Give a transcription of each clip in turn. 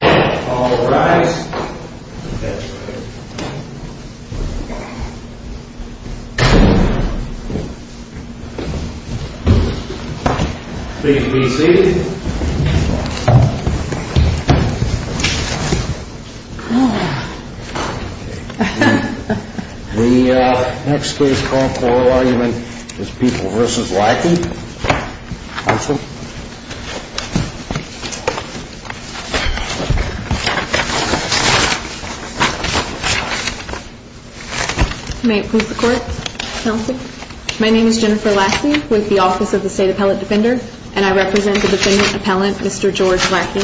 All rise. Please be seated. The next case for oral argument is People v. Lackey. Counsel? May it please the Court, Counsel? Thank you. My name is Jennifer Lackey with the Office of the State Appellate Defender, and I represent the defendant appellant, Mr. George Lackey.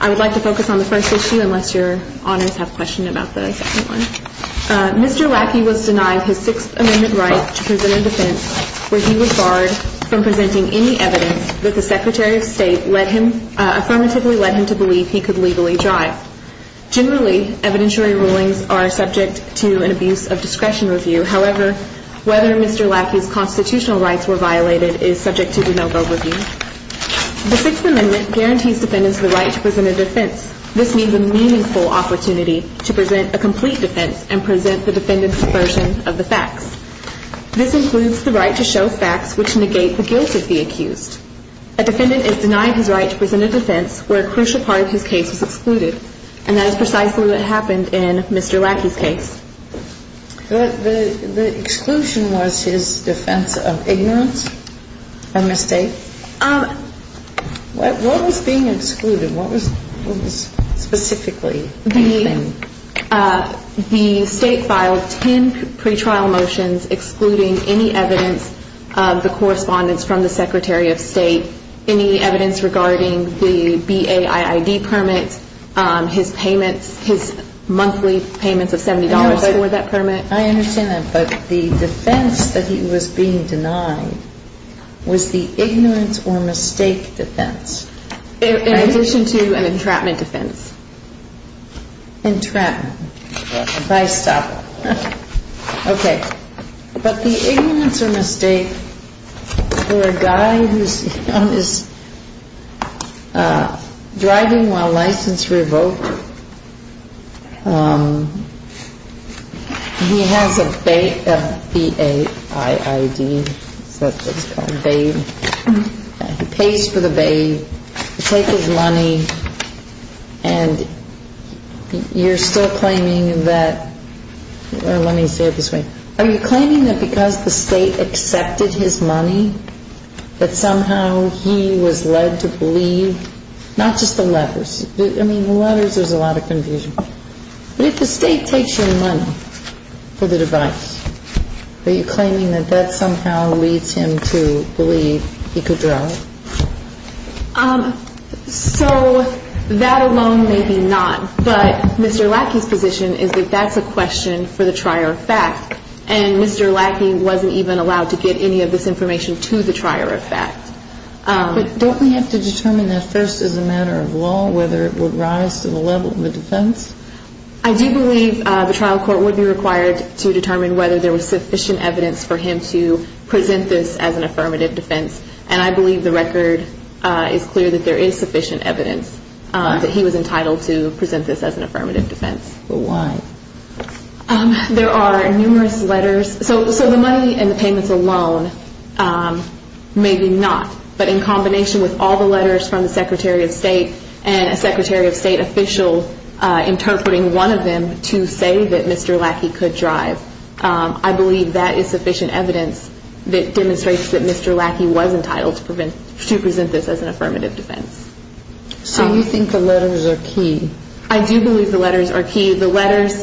I would like to focus on the first issue unless your honors have questions about the second one. Mr. Lackey was denied his Sixth Amendment right to present a defense where he was barred from presenting any evidence that the Secretary of State affirmatively led him to believe he could legally drive. Generally, evidentiary rulings are subject to an abuse of discretion review. However, whether Mr. Lackey's constitutional rights were violated is subject to de novo review. The Sixth Amendment guarantees defendants the right to present a defense. This means a meaningful opportunity to present a complete defense and present the defendant's version of the facts. This includes the right to show facts which negate the guilt of the accused. A defendant is denied his right to present a defense where a crucial part of his case is excluded, and that is precisely what happened in Mr. Lackey's case. The exclusion was his defense of ignorance and mistake? What was being excluded? What was specifically? The State filed 10 pretrial motions excluding any evidence of the correspondence from the Secretary of State, any evidence regarding the BAIID permit, his payments, his monthly payments of $70 for that permit. I understand that, but the defense that he was being denied was the ignorance or mistake defense? In addition to an entrapment defense. Entrapment. If I stop. Okay. But the ignorance or mistake for a guy who's driving while license revoked, he has a BAIID, that's what it's called, BAID. He pays for the BAIID, he takes his money, and you're still claiming that, or let me say it this way, are you claiming that because the State accepted his money that somehow he was led to believe, not just the letters, I mean, the letters there's a lot of confusion, but if the State takes your money for the device, are you claiming that that somehow leads him to believe he could drive? So that alone may be not, but Mr. Lackey's position is that that's a question for the trier of fact, and Mr. Lackey wasn't even allowed to get any of this information to the trier of fact. But don't we have to determine that first as a matter of law whether it would rise to the level of the defense? I do believe the trial court would be required to determine whether there was sufficient evidence for him to present this as an affirmative defense, and I believe the record is clear that there is sufficient evidence that he was entitled to present this as an affirmative defense. But why? There are numerous letters, so the money and the payments alone may be not, but in combination with all the letters from the Secretary of State and a Secretary of State official interpreting one of them to say that Mr. Lackey could drive, I believe that is sufficient evidence that demonstrates that Mr. Lackey was entitled to present this as an affirmative defense. So you think the letters are key? I do believe the letters are key. The letters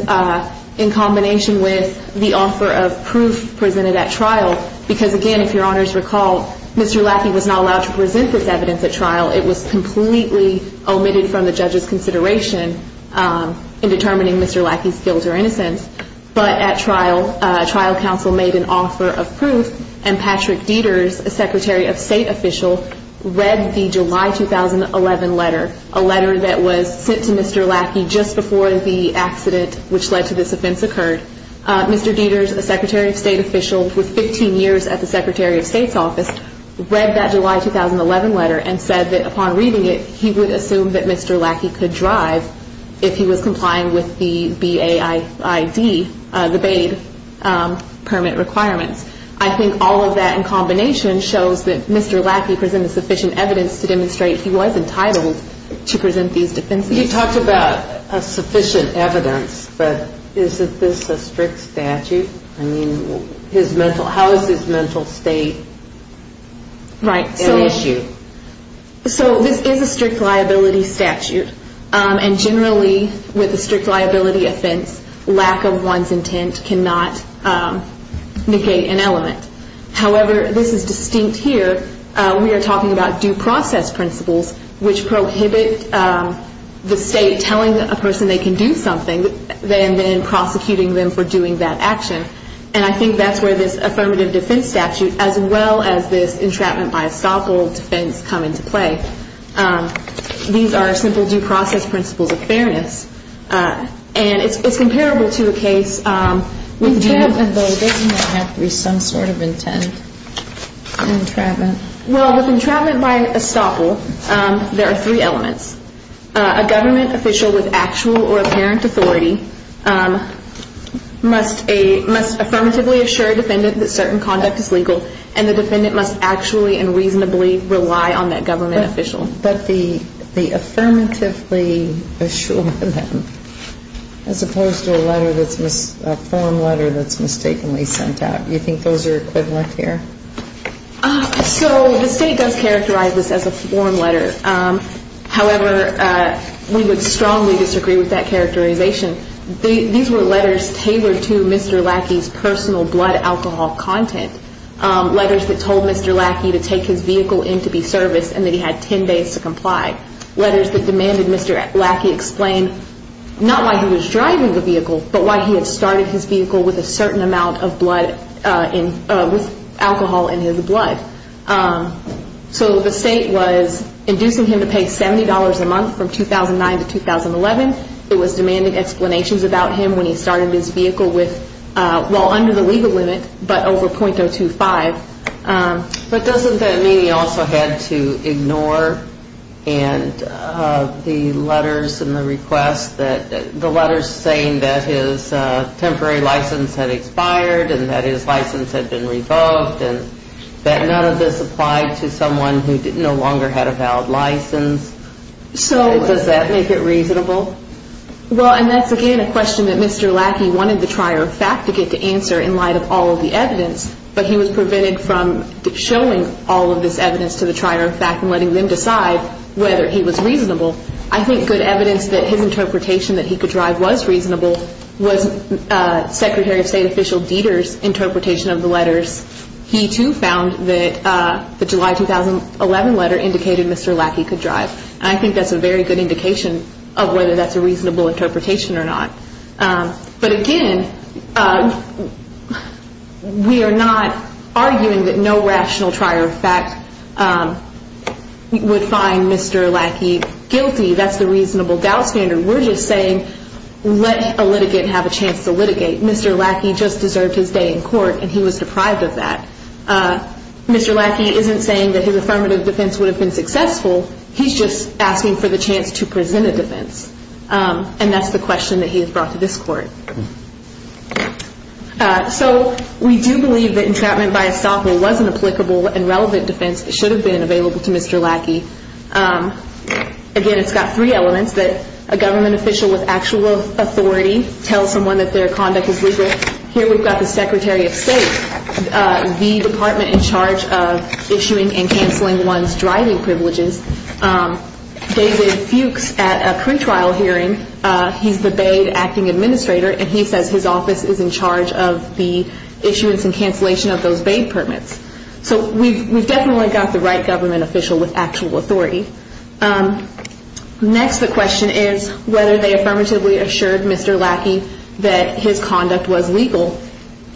in combination with the offer of proof presented at trial, because again, if your honors recall, Mr. Lackey was not allowed to present this evidence at trial. It was completely omitted from the judge's consideration in determining Mr. Lackey's guilt or innocence. But at trial, trial counsel made an offer of proof, and Patrick Dieters, a Secretary of State official, read the July 2011 letter, a letter that was sent to Mr. Lackey just before the accident which led to this offense occurred. Mr. Dieters, a Secretary of State official with 15 years at the Secretary of State's office, read that July 2011 letter and said that upon reading it, he would assume that Mr. Lackey could drive if he was complying with the BAID permit requirements. I think all of that in combination shows that Mr. Lackey presented sufficient evidence to demonstrate he was entitled to present these defenses. You talked about sufficient evidence, but isn't this a strict statute? I mean, how is his mental state an issue? So this is a strict liability statute, and generally with a strict liability offense, lack of one's intent cannot negate an element. However, this is distinct here. We are talking about due process principles which prohibit the state telling a person they can do something and then prosecuting them for doing that action. And I think that's where this affirmative defense statute as well as this entrapment by estoppel defense come into play. These are simple due process principles of fairness, and it's comparable to a case with... Entrapment, though, doesn't have to be some sort of intent. Well, with entrapment by estoppel, there are three elements. A government official with actual or apparent authority must affirmatively assure a defendant that certain conduct is legal, and the defendant must actually and reasonably rely on that government official. But the affirmatively assure them as opposed to a letter that's a form letter that's mistakenly sent out, you think those are equivalent here? So the state does characterize this as a form letter. However, we would strongly disagree with that characterization. These were letters tailored to Mr. Lackey's personal blood alcohol content. Letters that told Mr. Lackey to take his vehicle in to be serviced and that he had 10 days to comply. Letters that demanded Mr. Lackey explain not why he was driving the vehicle, but why he had started his vehicle with a certain amount of blood, with alcohol in his blood. So the state was inducing him to pay $70 a month from 2009 to 2011. It was demanding explanations about him when he started his vehicle with, well, under the legal limit, but over .025. But doesn't that mean he also had to ignore the letters and the requests, the letters saying that his temporary license had expired and that his license had been revoked and that none of this applied to someone who no longer had a valid license? Does that make it reasonable? Well, and that's again a question that Mr. Lackey wanted the trier of fact to get to answer in light of all of the evidence, but he was prevented from showing all of this evidence to the trier of fact and letting them decide whether he was reasonable. I think good evidence that his interpretation that he could drive was reasonable was Secretary of State Official Dieter's interpretation of the letters. He too found that the July 2011 letter indicated Mr. Lackey could drive. And I think that's a very good indication of whether that's a reasonable interpretation or not. But again, we are not arguing that no rational trier of fact would find Mr. Lackey guilty. That's the reasonable doubt standard. We're just saying let a litigant have a chance to litigate. Mr. Lackey just deserved his day in court and he was deprived of that. Mr. Lackey isn't saying that his affirmative defense would have been successful. He's just asking for the chance to present a defense. And that's the question that he has brought to this court. So we do believe that entrapment by estoppel was an applicable and relevant defense. It should have been available to Mr. Lackey. Again, it's got three elements that a government official with actual authority tells someone that their conduct is legal. Here we've got the Secretary of State, the department in charge of issuing and canceling one's driving privileges. David Fuchs at a crime trial hearing, he's the Baid acting administrator and he says his office is in charge of the issuance and cancellation of those Baid permits. So we've definitely got the right government official with actual authority. Next, the question is whether they affirmatively assured Mr. Lackey that his conduct was legal.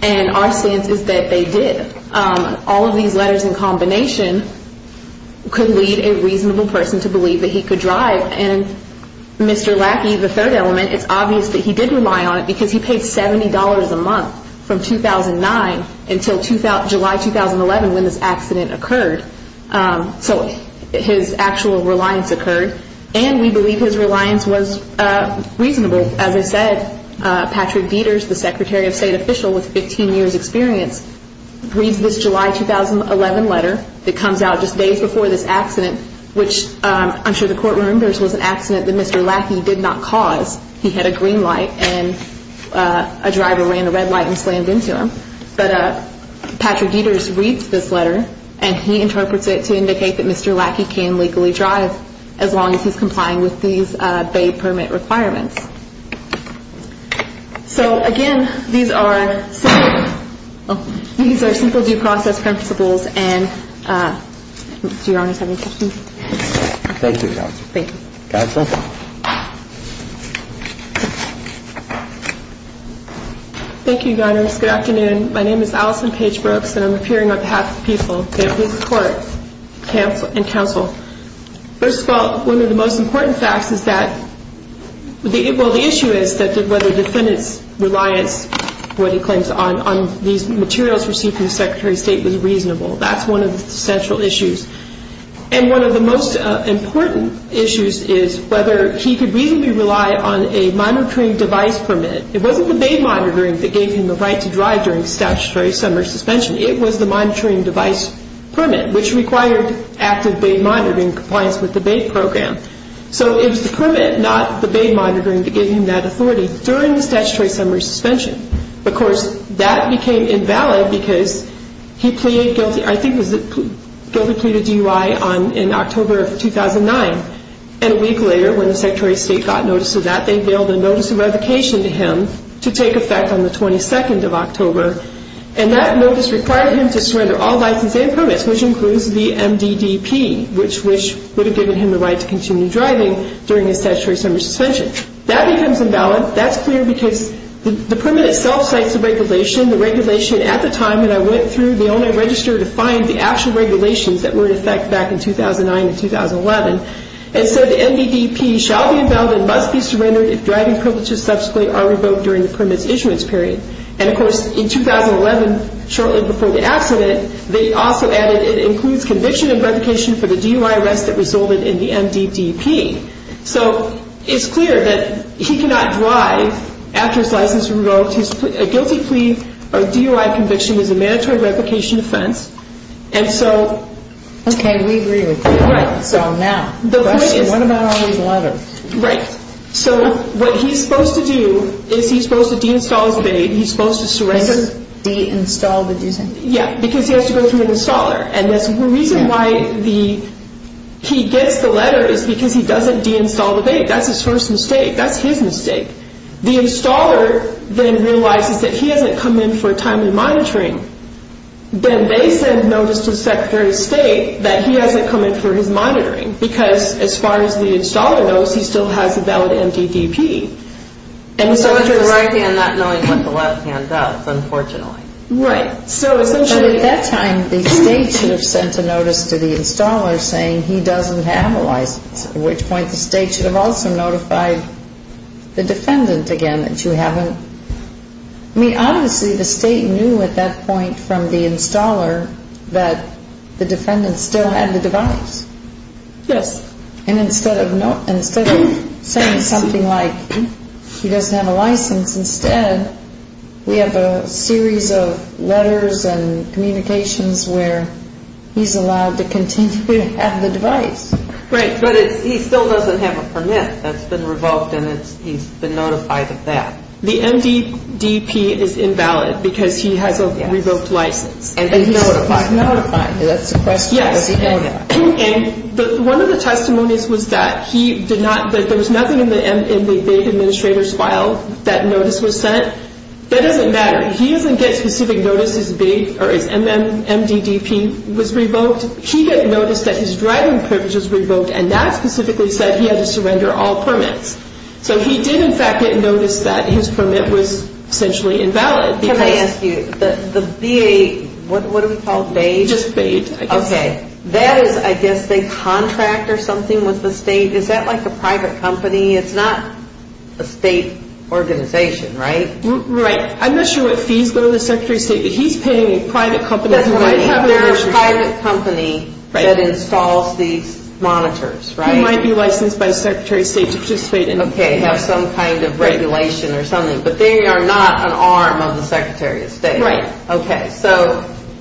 And our stance is that they did. All of these letters in combination could lead a reasonable person to believe that he could drive. And Mr. Lackey, the third element, it's obvious that he did rely on it because he paid $70 a month from 2009 until July 2011 when this accident occurred. So his actual reliance occurred. And we believe his reliance was reasonable. As I said, Patrick Dieters, the Secretary of State official with 15 years experience, reads this July 2011 letter that comes out just days before this accident, which I'm sure the court remembers was an accident that Mr. Lackey did not cause. He had a green light and a driver ran a red light and slammed into him. But Patrick Dieters reads this letter and he interprets it to indicate that Mr. Lackey can legally drive as long as he's complying with these Baid permit requirements. So again, these are simple due process principles. And do Your Honors have any questions? Thank you, Your Honors. Counsel? Thank you, Your Honors. Good afternoon. My name is Allison Page Brooks and I'm appearing on behalf of the people, the appeals court and counsel. First of all, one of the most important facts is that, well, the issue is whether the defendant's reliance, what he claims, on these materials received from the Secretary of State was reasonable. That's one of the central issues. And one of the most important issues is whether he could reasonably rely on a monitoring device permit. It wasn't the Baid monitoring that gave him the right to drive during statutory summary suspension. It was the monitoring device permit, which required active Baid monitoring in compliance with the Baid program. So it was the permit, not the Baid monitoring, that gave him that authority during the statutory summary suspension. Of course, that became invalid because he pleaded guilty. I think it was guilty plea to DUI in October of 2009. And a week later, when the Secretary of State got notice of that, they veiled a notice of revocation to him to take effect on the 22nd of October. And that notice required him to surrender all license and permits, which includes the MDDP, which would have given him the right to continue driving during the statutory summary suspension. That becomes invalid. That's clear because the permit itself cites a regulation. The regulation at the time that I went through, the only register to find the actual regulations that were in effect back in 2009 and 2011. And so the MDDP shall be invalid and must be surrendered if driving privileges subsequently are revoked during the permit's issuance period. And, of course, in 2011, shortly before the accident, they also added it includes conviction and revocation for the DUI arrest that resulted in the MDDP. So it's clear that he cannot drive after his license is revoked. A guilty plea or DUI conviction is a mandatory revocation offense. Okay, we agree with you. So now, the question, what about all these letters? Right. So what he's supposed to do is he's supposed to deinstall his bay. He's supposed to surrender. Deinstall, did you say? Yeah, because he has to go through an installer. And the reason why he gets the letter is because he doesn't deinstall the bay. That's his first mistake. That's his mistake. The installer then realizes that he hasn't come in for timely monitoring. Then they send notice to the Secretary of State that he hasn't come in for his monitoring. Because as far as the installer knows, he still has a valid MDDP. So it's the right hand not knowing what the left hand does, unfortunately. Right. So essentially at that time, the State should have sent a notice to the installer saying he doesn't have a license. At which point the State should have also notified the defendant again that you haven't. I mean, obviously the State knew at that point from the installer that the defendant still had the device. Yes. And instead of saying something like he doesn't have a license, instead we have a series of letters and communications where he's allowed to continue to have the device. Right. But he still doesn't have a permit that's been revoked and he's been notified of that. The MDDP is invalid because he has a revoked license and he's notified. Notified. That's the question. Does he know that? Yes. And one of the testimonies was that there was nothing in the Bay Administrator's file that notice was sent. That doesn't matter. He doesn't get specific notice his MDDP was revoked. He didn't notice that his driving privilege was revoked and that specifically said he had to surrender all permits. So he did, in fact, get notice that his permit was essentially invalid. Can I ask you, the VA, what do we call it, BAID? Just BAID. Okay. That is, I guess, they contract or something with the state. Is that like a private company? It's not a state organization, right? Right. I'm not sure what fees go to the Secretary of State, but he's paying a private company. There's a private company that installs these monitors, right? They might be licensed by the Secretary of State to participate in it. Okay, have some kind of regulation or something, but they are not an arm of the Secretary of State. Right.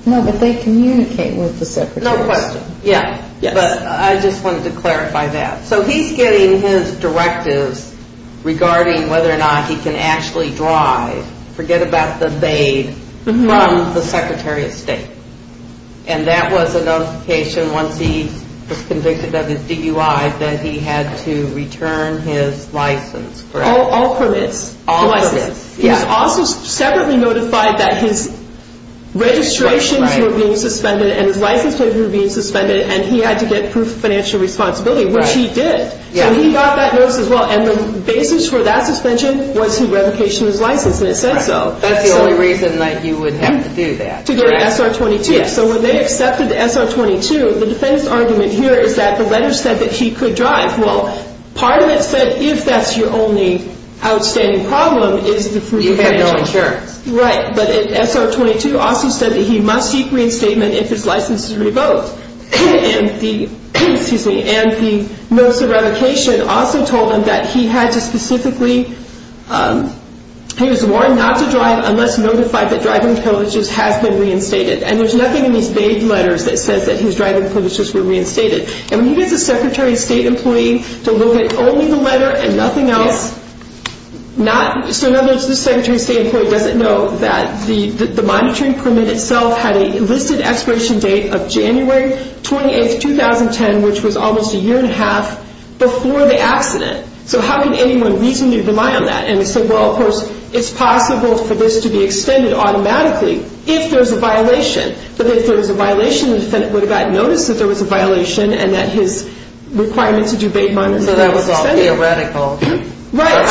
No, but they communicate with the Secretary. No question. But I just wanted to clarify that. So he's getting his directives regarding whether or not he can actually drive, forget about the BAID, from the Secretary of State, and that was a notification once he was convicted of his DUI that he had to return his license. All permits. He was also separately notified that his registrations were being suspended and his license papers were being suspended and he had to get proof of financial responsibility, which he did. So he got that notice as well, and the basis for that suspension was his revocation of his license, and it said so. That's the only reason that you would have to do that. To get an SR-22. So when they accepted the SR-22, the defense argument here is that the letter said that he could drive. Well, part of it said if that's your only outstanding problem is the proof of financial responsibility. You had no insurance. Right. But SR-22 also said that he must seek reinstatement if his license is revoked. And the notice of revocation also told him that he had to specifically, he was warned not to drive unless notified that driving privileges has been reinstated. And there's nothing in these BAID letters that says that his driving privileges were reinstated. And we need as a Secretary of State employee to look at only the letter and nothing else. So in other words, the Secretary of State employee doesn't know that the monitoring permit itself had a listed expiration date of January 28, 2010, which was almost a year and a half before the accident. So how could anyone reasonably rely on that? And they said, well, of course, it's possible for this to be extended automatically if there's a violation. But if there was a violation, the defendant would have gotten notice that there was a violation and that his requirement to do BAID monitoring was extended. So that was all theoretical. Right.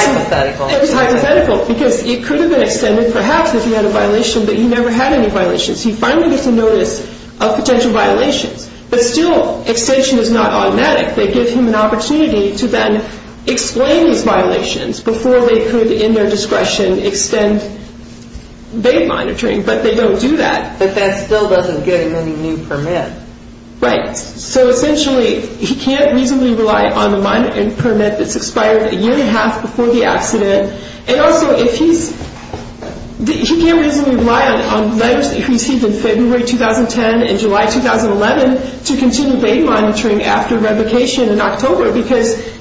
It was hypothetical because it could have been extended, perhaps, if he had a violation, but he never had any violations. He finally gets a notice of potential violations. But still, extension is not automatic. They give him an opportunity to then explain these violations before they could, in their discretion, extend BAID monitoring. But they don't do that. But that still doesn't get him any new permit. Right. So essentially, he can't reasonably rely on the monitoring permit that's expired a year and a half before the accident. And also, he can't reasonably rely on letters that he received in February 2010 and July 2011 to continue BAID monitoring after revocation in October. Because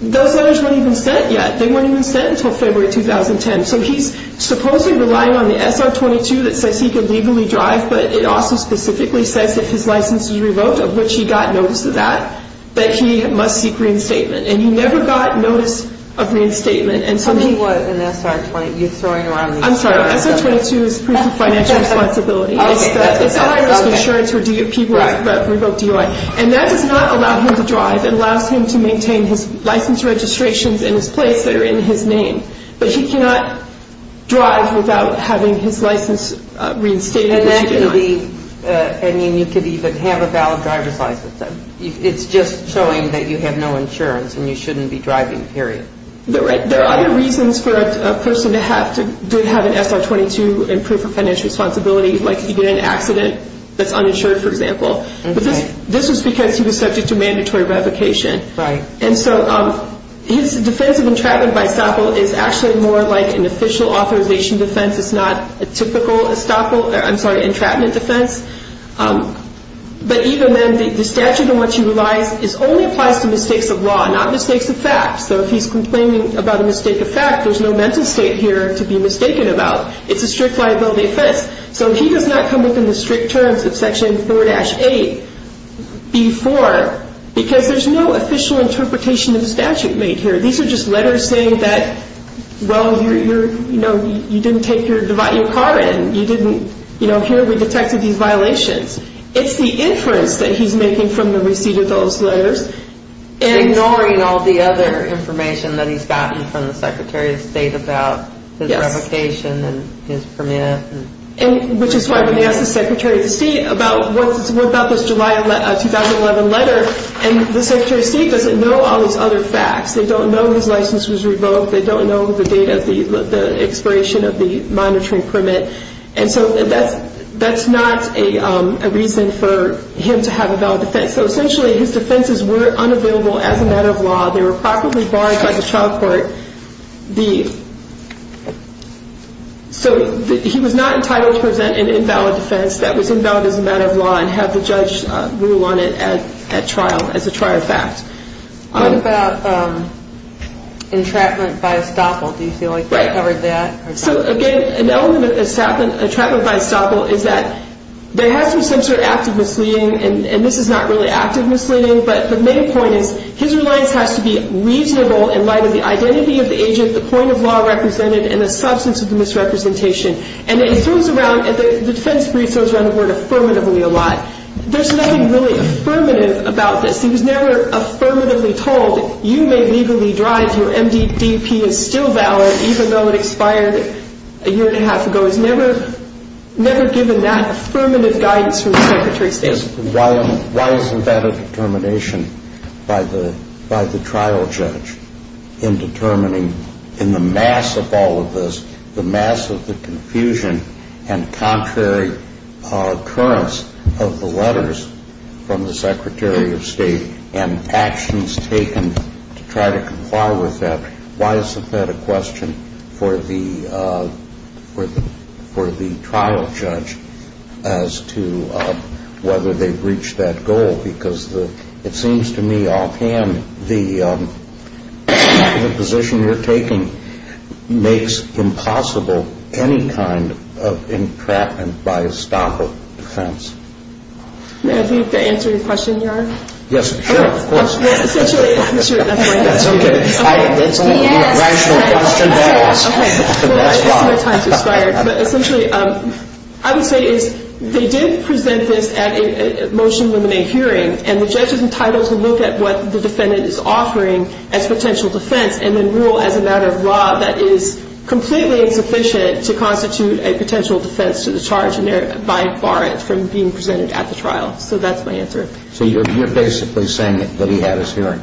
those letters weren't even sent yet. They weren't even sent until February 2010. So he's supposedly relying on the SR-22 that says he can legally drive. But it also specifically says if his license is revoked, of which he got notice of that, that he must seek reinstatement. And he never got notice of reinstatement. So he was an SR-20. You're throwing around these terms. I'm sorry. SR-22 is proof of financial responsibility. It's the IRS insurance where people revoke DUI. And that does not allow him to drive. It allows him to maintain his license registrations in his place that are in his name. But he cannot drive without having his license reinstated. And that could be, I mean, you could even have a valid driver's license. It's just showing that you have no insurance and you shouldn't be driving, period. There are other reasons for a person to have an SR-22 and proof of financial responsibility, like if you get in an accident that's uninsured, for example. But this was because he was subject to mandatory revocation. And so his defense of entrapment by estoppel is actually more like an official authorization defense. It's not a typical entrapment defense. But even then, the statute in which he relies only applies to mistakes of law, not mistakes of fact. So if he's complaining about a mistake of fact, there's no mental state here to be mistaken about. It's a strict liability offense. So he does not come up in the strict terms of Section 4-8 before, because there's no official interpretation of the statute made here. These are just letters saying that, well, you didn't take your car in. You didn't, you know, here we detected these violations. It's the inference that he's making from the receipt of those letters. Ignoring all the other information that he's gotten from the Secretary of State about his revocation and his permit. Which is why when they ask the Secretary of State about what about this July 2011 letter, and the Secretary of State doesn't know all these other facts. They don't know his license was revoked. They don't know the date of the expiration of the monitoring permit. And so that's not a reason for him to have a valid defense. So essentially his defenses were unavailable as a matter of law. They were properly barred by the trial court. So he was not entitled to present an invalid defense that was invalid as a matter of law and have the judge rule on it at trial as a trial fact. What about entrapment by estoppel? Do you feel like that covered that? So again, an element of entrapment by estoppel is that there has to be some sort of active misleading. And this is not really active misleading. But the main point is his reliance has to be reasonable in light of the identity of the agent, the point of law represented, and the substance of the misrepresentation. And it throws around, the defense brief throws around the word affirmatively a lot. There's nothing really affirmative about this. He was never affirmatively told you may legally drive, your MDP is still valid even though it expired. A year and a half ago. He was never given that affirmative guidance from the Secretary of State. Why isn't that a determination by the trial judge in determining in the mass of all of this, the mass of the confusion and contrary occurrence of the letters from the Secretary of State and actions taken to try to comply with that, why isn't that a question for the trial judge as to whether they've reached that goal? Because it seems to me offhand, the position you're taking makes impossible any kind of entrapment by estoppel defense. May I ask you to answer your question, Your Honor? Yes, sure, of course. I would say they did present this at a motion in the May hearing, and the judges entitled to look at what the defendant is offering as potential defense and then rule as a matter of law that is completely insufficient to constitute a potential defense to the charge by bar it from being presented at the trial, so that's my answer. So you're basically saying that he had his hearing?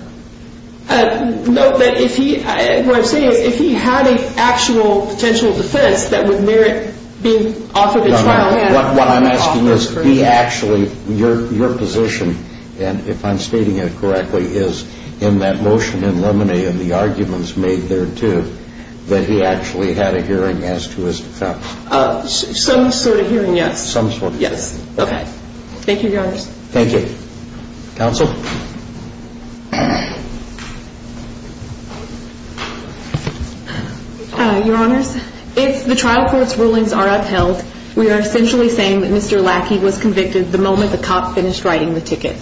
No, what I'm saying is if he had an actual potential defense that would merit being offered at trial What I'm asking is, your position, if I'm stating it correctly, is in that motion in Lemony and the arguments made there too, that he actually had a hearing as to his defense? Some sort of hearing, yes. Thank you, Your Honors. Counsel? Your Honors, if the trial court's rulings are upheld, we are essentially saying that Mr. Lackey was convicted the moment the cop finished writing the ticket.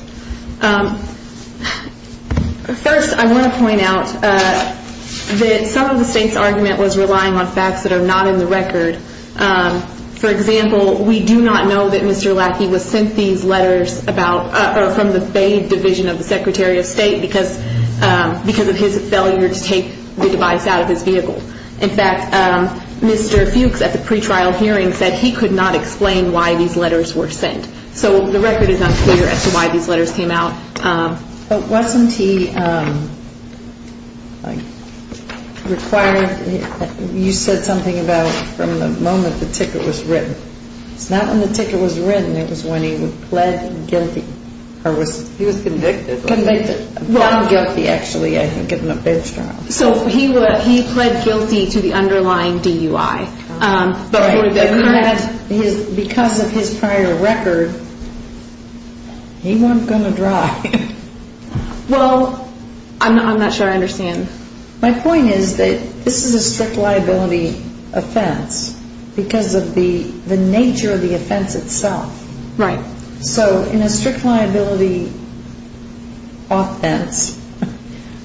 First, I want to point out that some of the state's argument was relying on facts that are not in the record, for example, we do not know that Mr. Lackey was sent these letters from the Bay Division of the Secretary of State because of his failure to take the device out of his vehicle. In fact, Mr. Fuchs at the pre-trial hearing said he could not explain why these letters were sent. So the record is unclear as to why these letters came out. But wasn't he required, you said something about from the moment the ticket was written. It's not when the ticket was written, it was when he pled guilty. He was convicted? He pled guilty to the underlying DUI. Because of his prior record, he wasn't going to drive. Well, I'm not sure I understand. My point is that this is a strict liability offense because of the nature of the offense itself. So in a strict liability offense,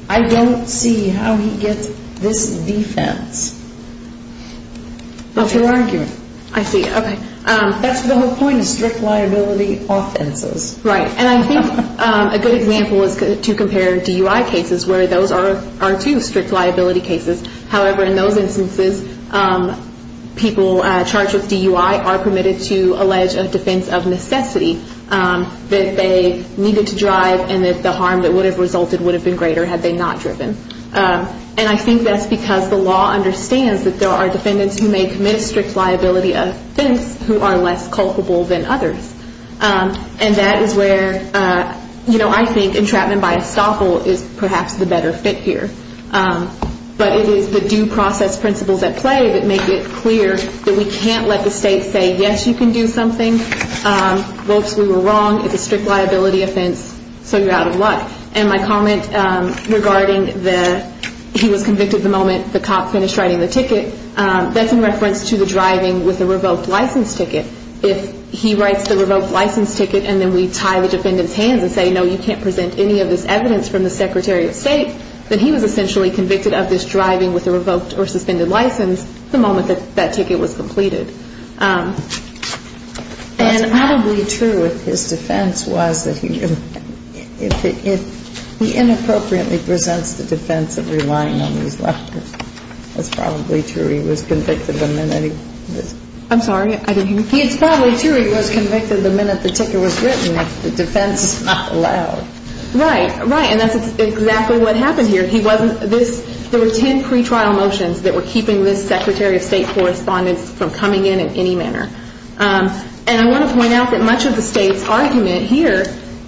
I don't see how he gets this defense. That's your argument. I see, okay. That's the whole point of strict liability offenses. Right, and I think a good example is to compare DUI cases where those are two strict liability cases. However, in those instances, people charged with DUI are permitted to allege a defense of necessity that they needed to drive and that the harm that would have resulted would have been greater had they not driven. And I think that's because the law understands that there are defendants who may commit a strict liability offense who are less culpable than others. And that is where, you know, I think entrapment by estoppel is perhaps the better fit here. But it is the due process principles at play that make it clear that we can't let the state say, yes, you can do something. Folks, we were wrong. It's a strict liability offense, so you're out of luck. And my comment regarding the, he was convicted the moment the cop finished writing the ticket, that's in reference to the driving with a revoked license ticket. If he writes the revoked license ticket and then we tie the defendant's hands and say, no, you can't present any of this evidence from the Secretary of State, then he was essentially convicted of this driving with a revoked or suspended license the moment that that ticket was completed. And probably true if his defense was that he, if he inappropriately presents the defense of relying on these letters. That's probably true. He was convicted the minute he was. I'm sorry, I didn't hear you. It's probably true he was convicted the minute the ticket was written if the defense is not allowed. Right, right. And that's exactly what happened here. There were ten pretrial motions that were keeping this Secretary of State correspondence from coming in in any manner. And I want to point out that much of the state's argument here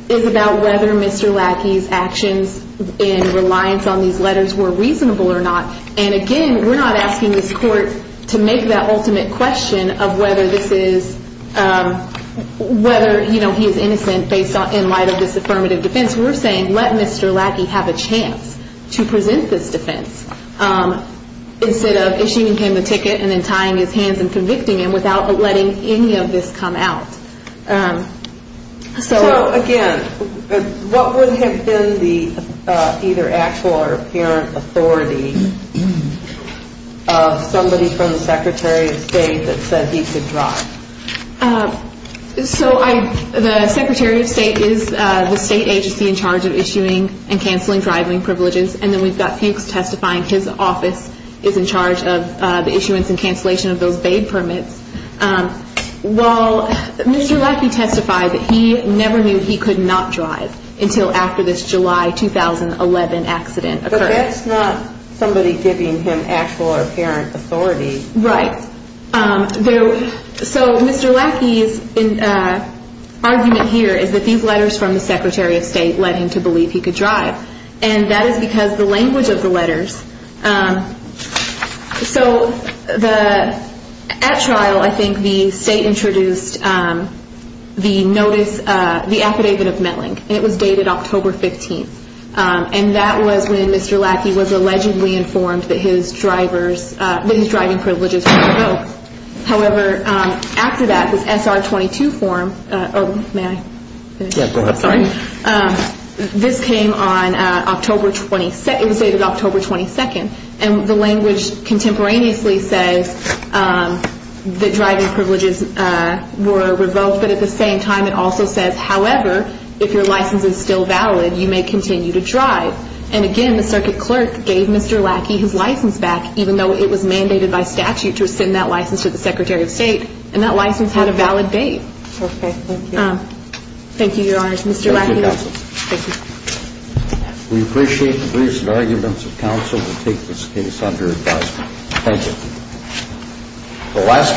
is about whether Mr. Lackey's actions in reliance on these letters were reasonable or not. And again, we're not asking this court to make that ultimate question of whether this is, whether, you know, he is innocent in light of this affirmative defense. We're saying let Mr. Lackey have a chance to present this defense instead of issuing him the ticket and then tying his hands and convicting him without letting any of this come out. So again, what would have been the either actual or apparent authority of somebody from the Secretary of State that said he could drive? So I, the Secretary of State is the state agency in charge of issuing and cancelling driving privileges. And then we've got Pink's testifying, his office is in charge of the issuance and cancellation of those baid permits. While Mr. Lackey testified that he never knew he could not drive until after this July 2011 accident occurred. But that's not somebody giving him actual or apparent authority. Right. So Mr. Lackey's argument here is that these letters from the Secretary of State led him to believe he could drive. And that is because the language of the letters so the, at trial I think the state introduced the notice, the affidavit of Melling and it was dated October 15th. And that was when Mr. Lackey was allegedly informed that his drivers, that his driving privileges were revoked. However, after that this SR-22 form, oh may I finish? Yeah, go ahead. Sorry. This came on October 22nd, it was dated October 22nd and the language contemporaneously says that driving privileges were revoked. But at the same time it states that if your license is still valid, you may continue to drive. And again, the circuit clerk gave Mr. Lackey his license back even though it was mandated by statute to send that license to the Secretary of State. And that license had a valid date. Okay, thank you. Thank you, Your Honors. Mr. Lackey. Thank you. We appreciate the briefs and arguments of counsel to take this case under advisement. Thank you.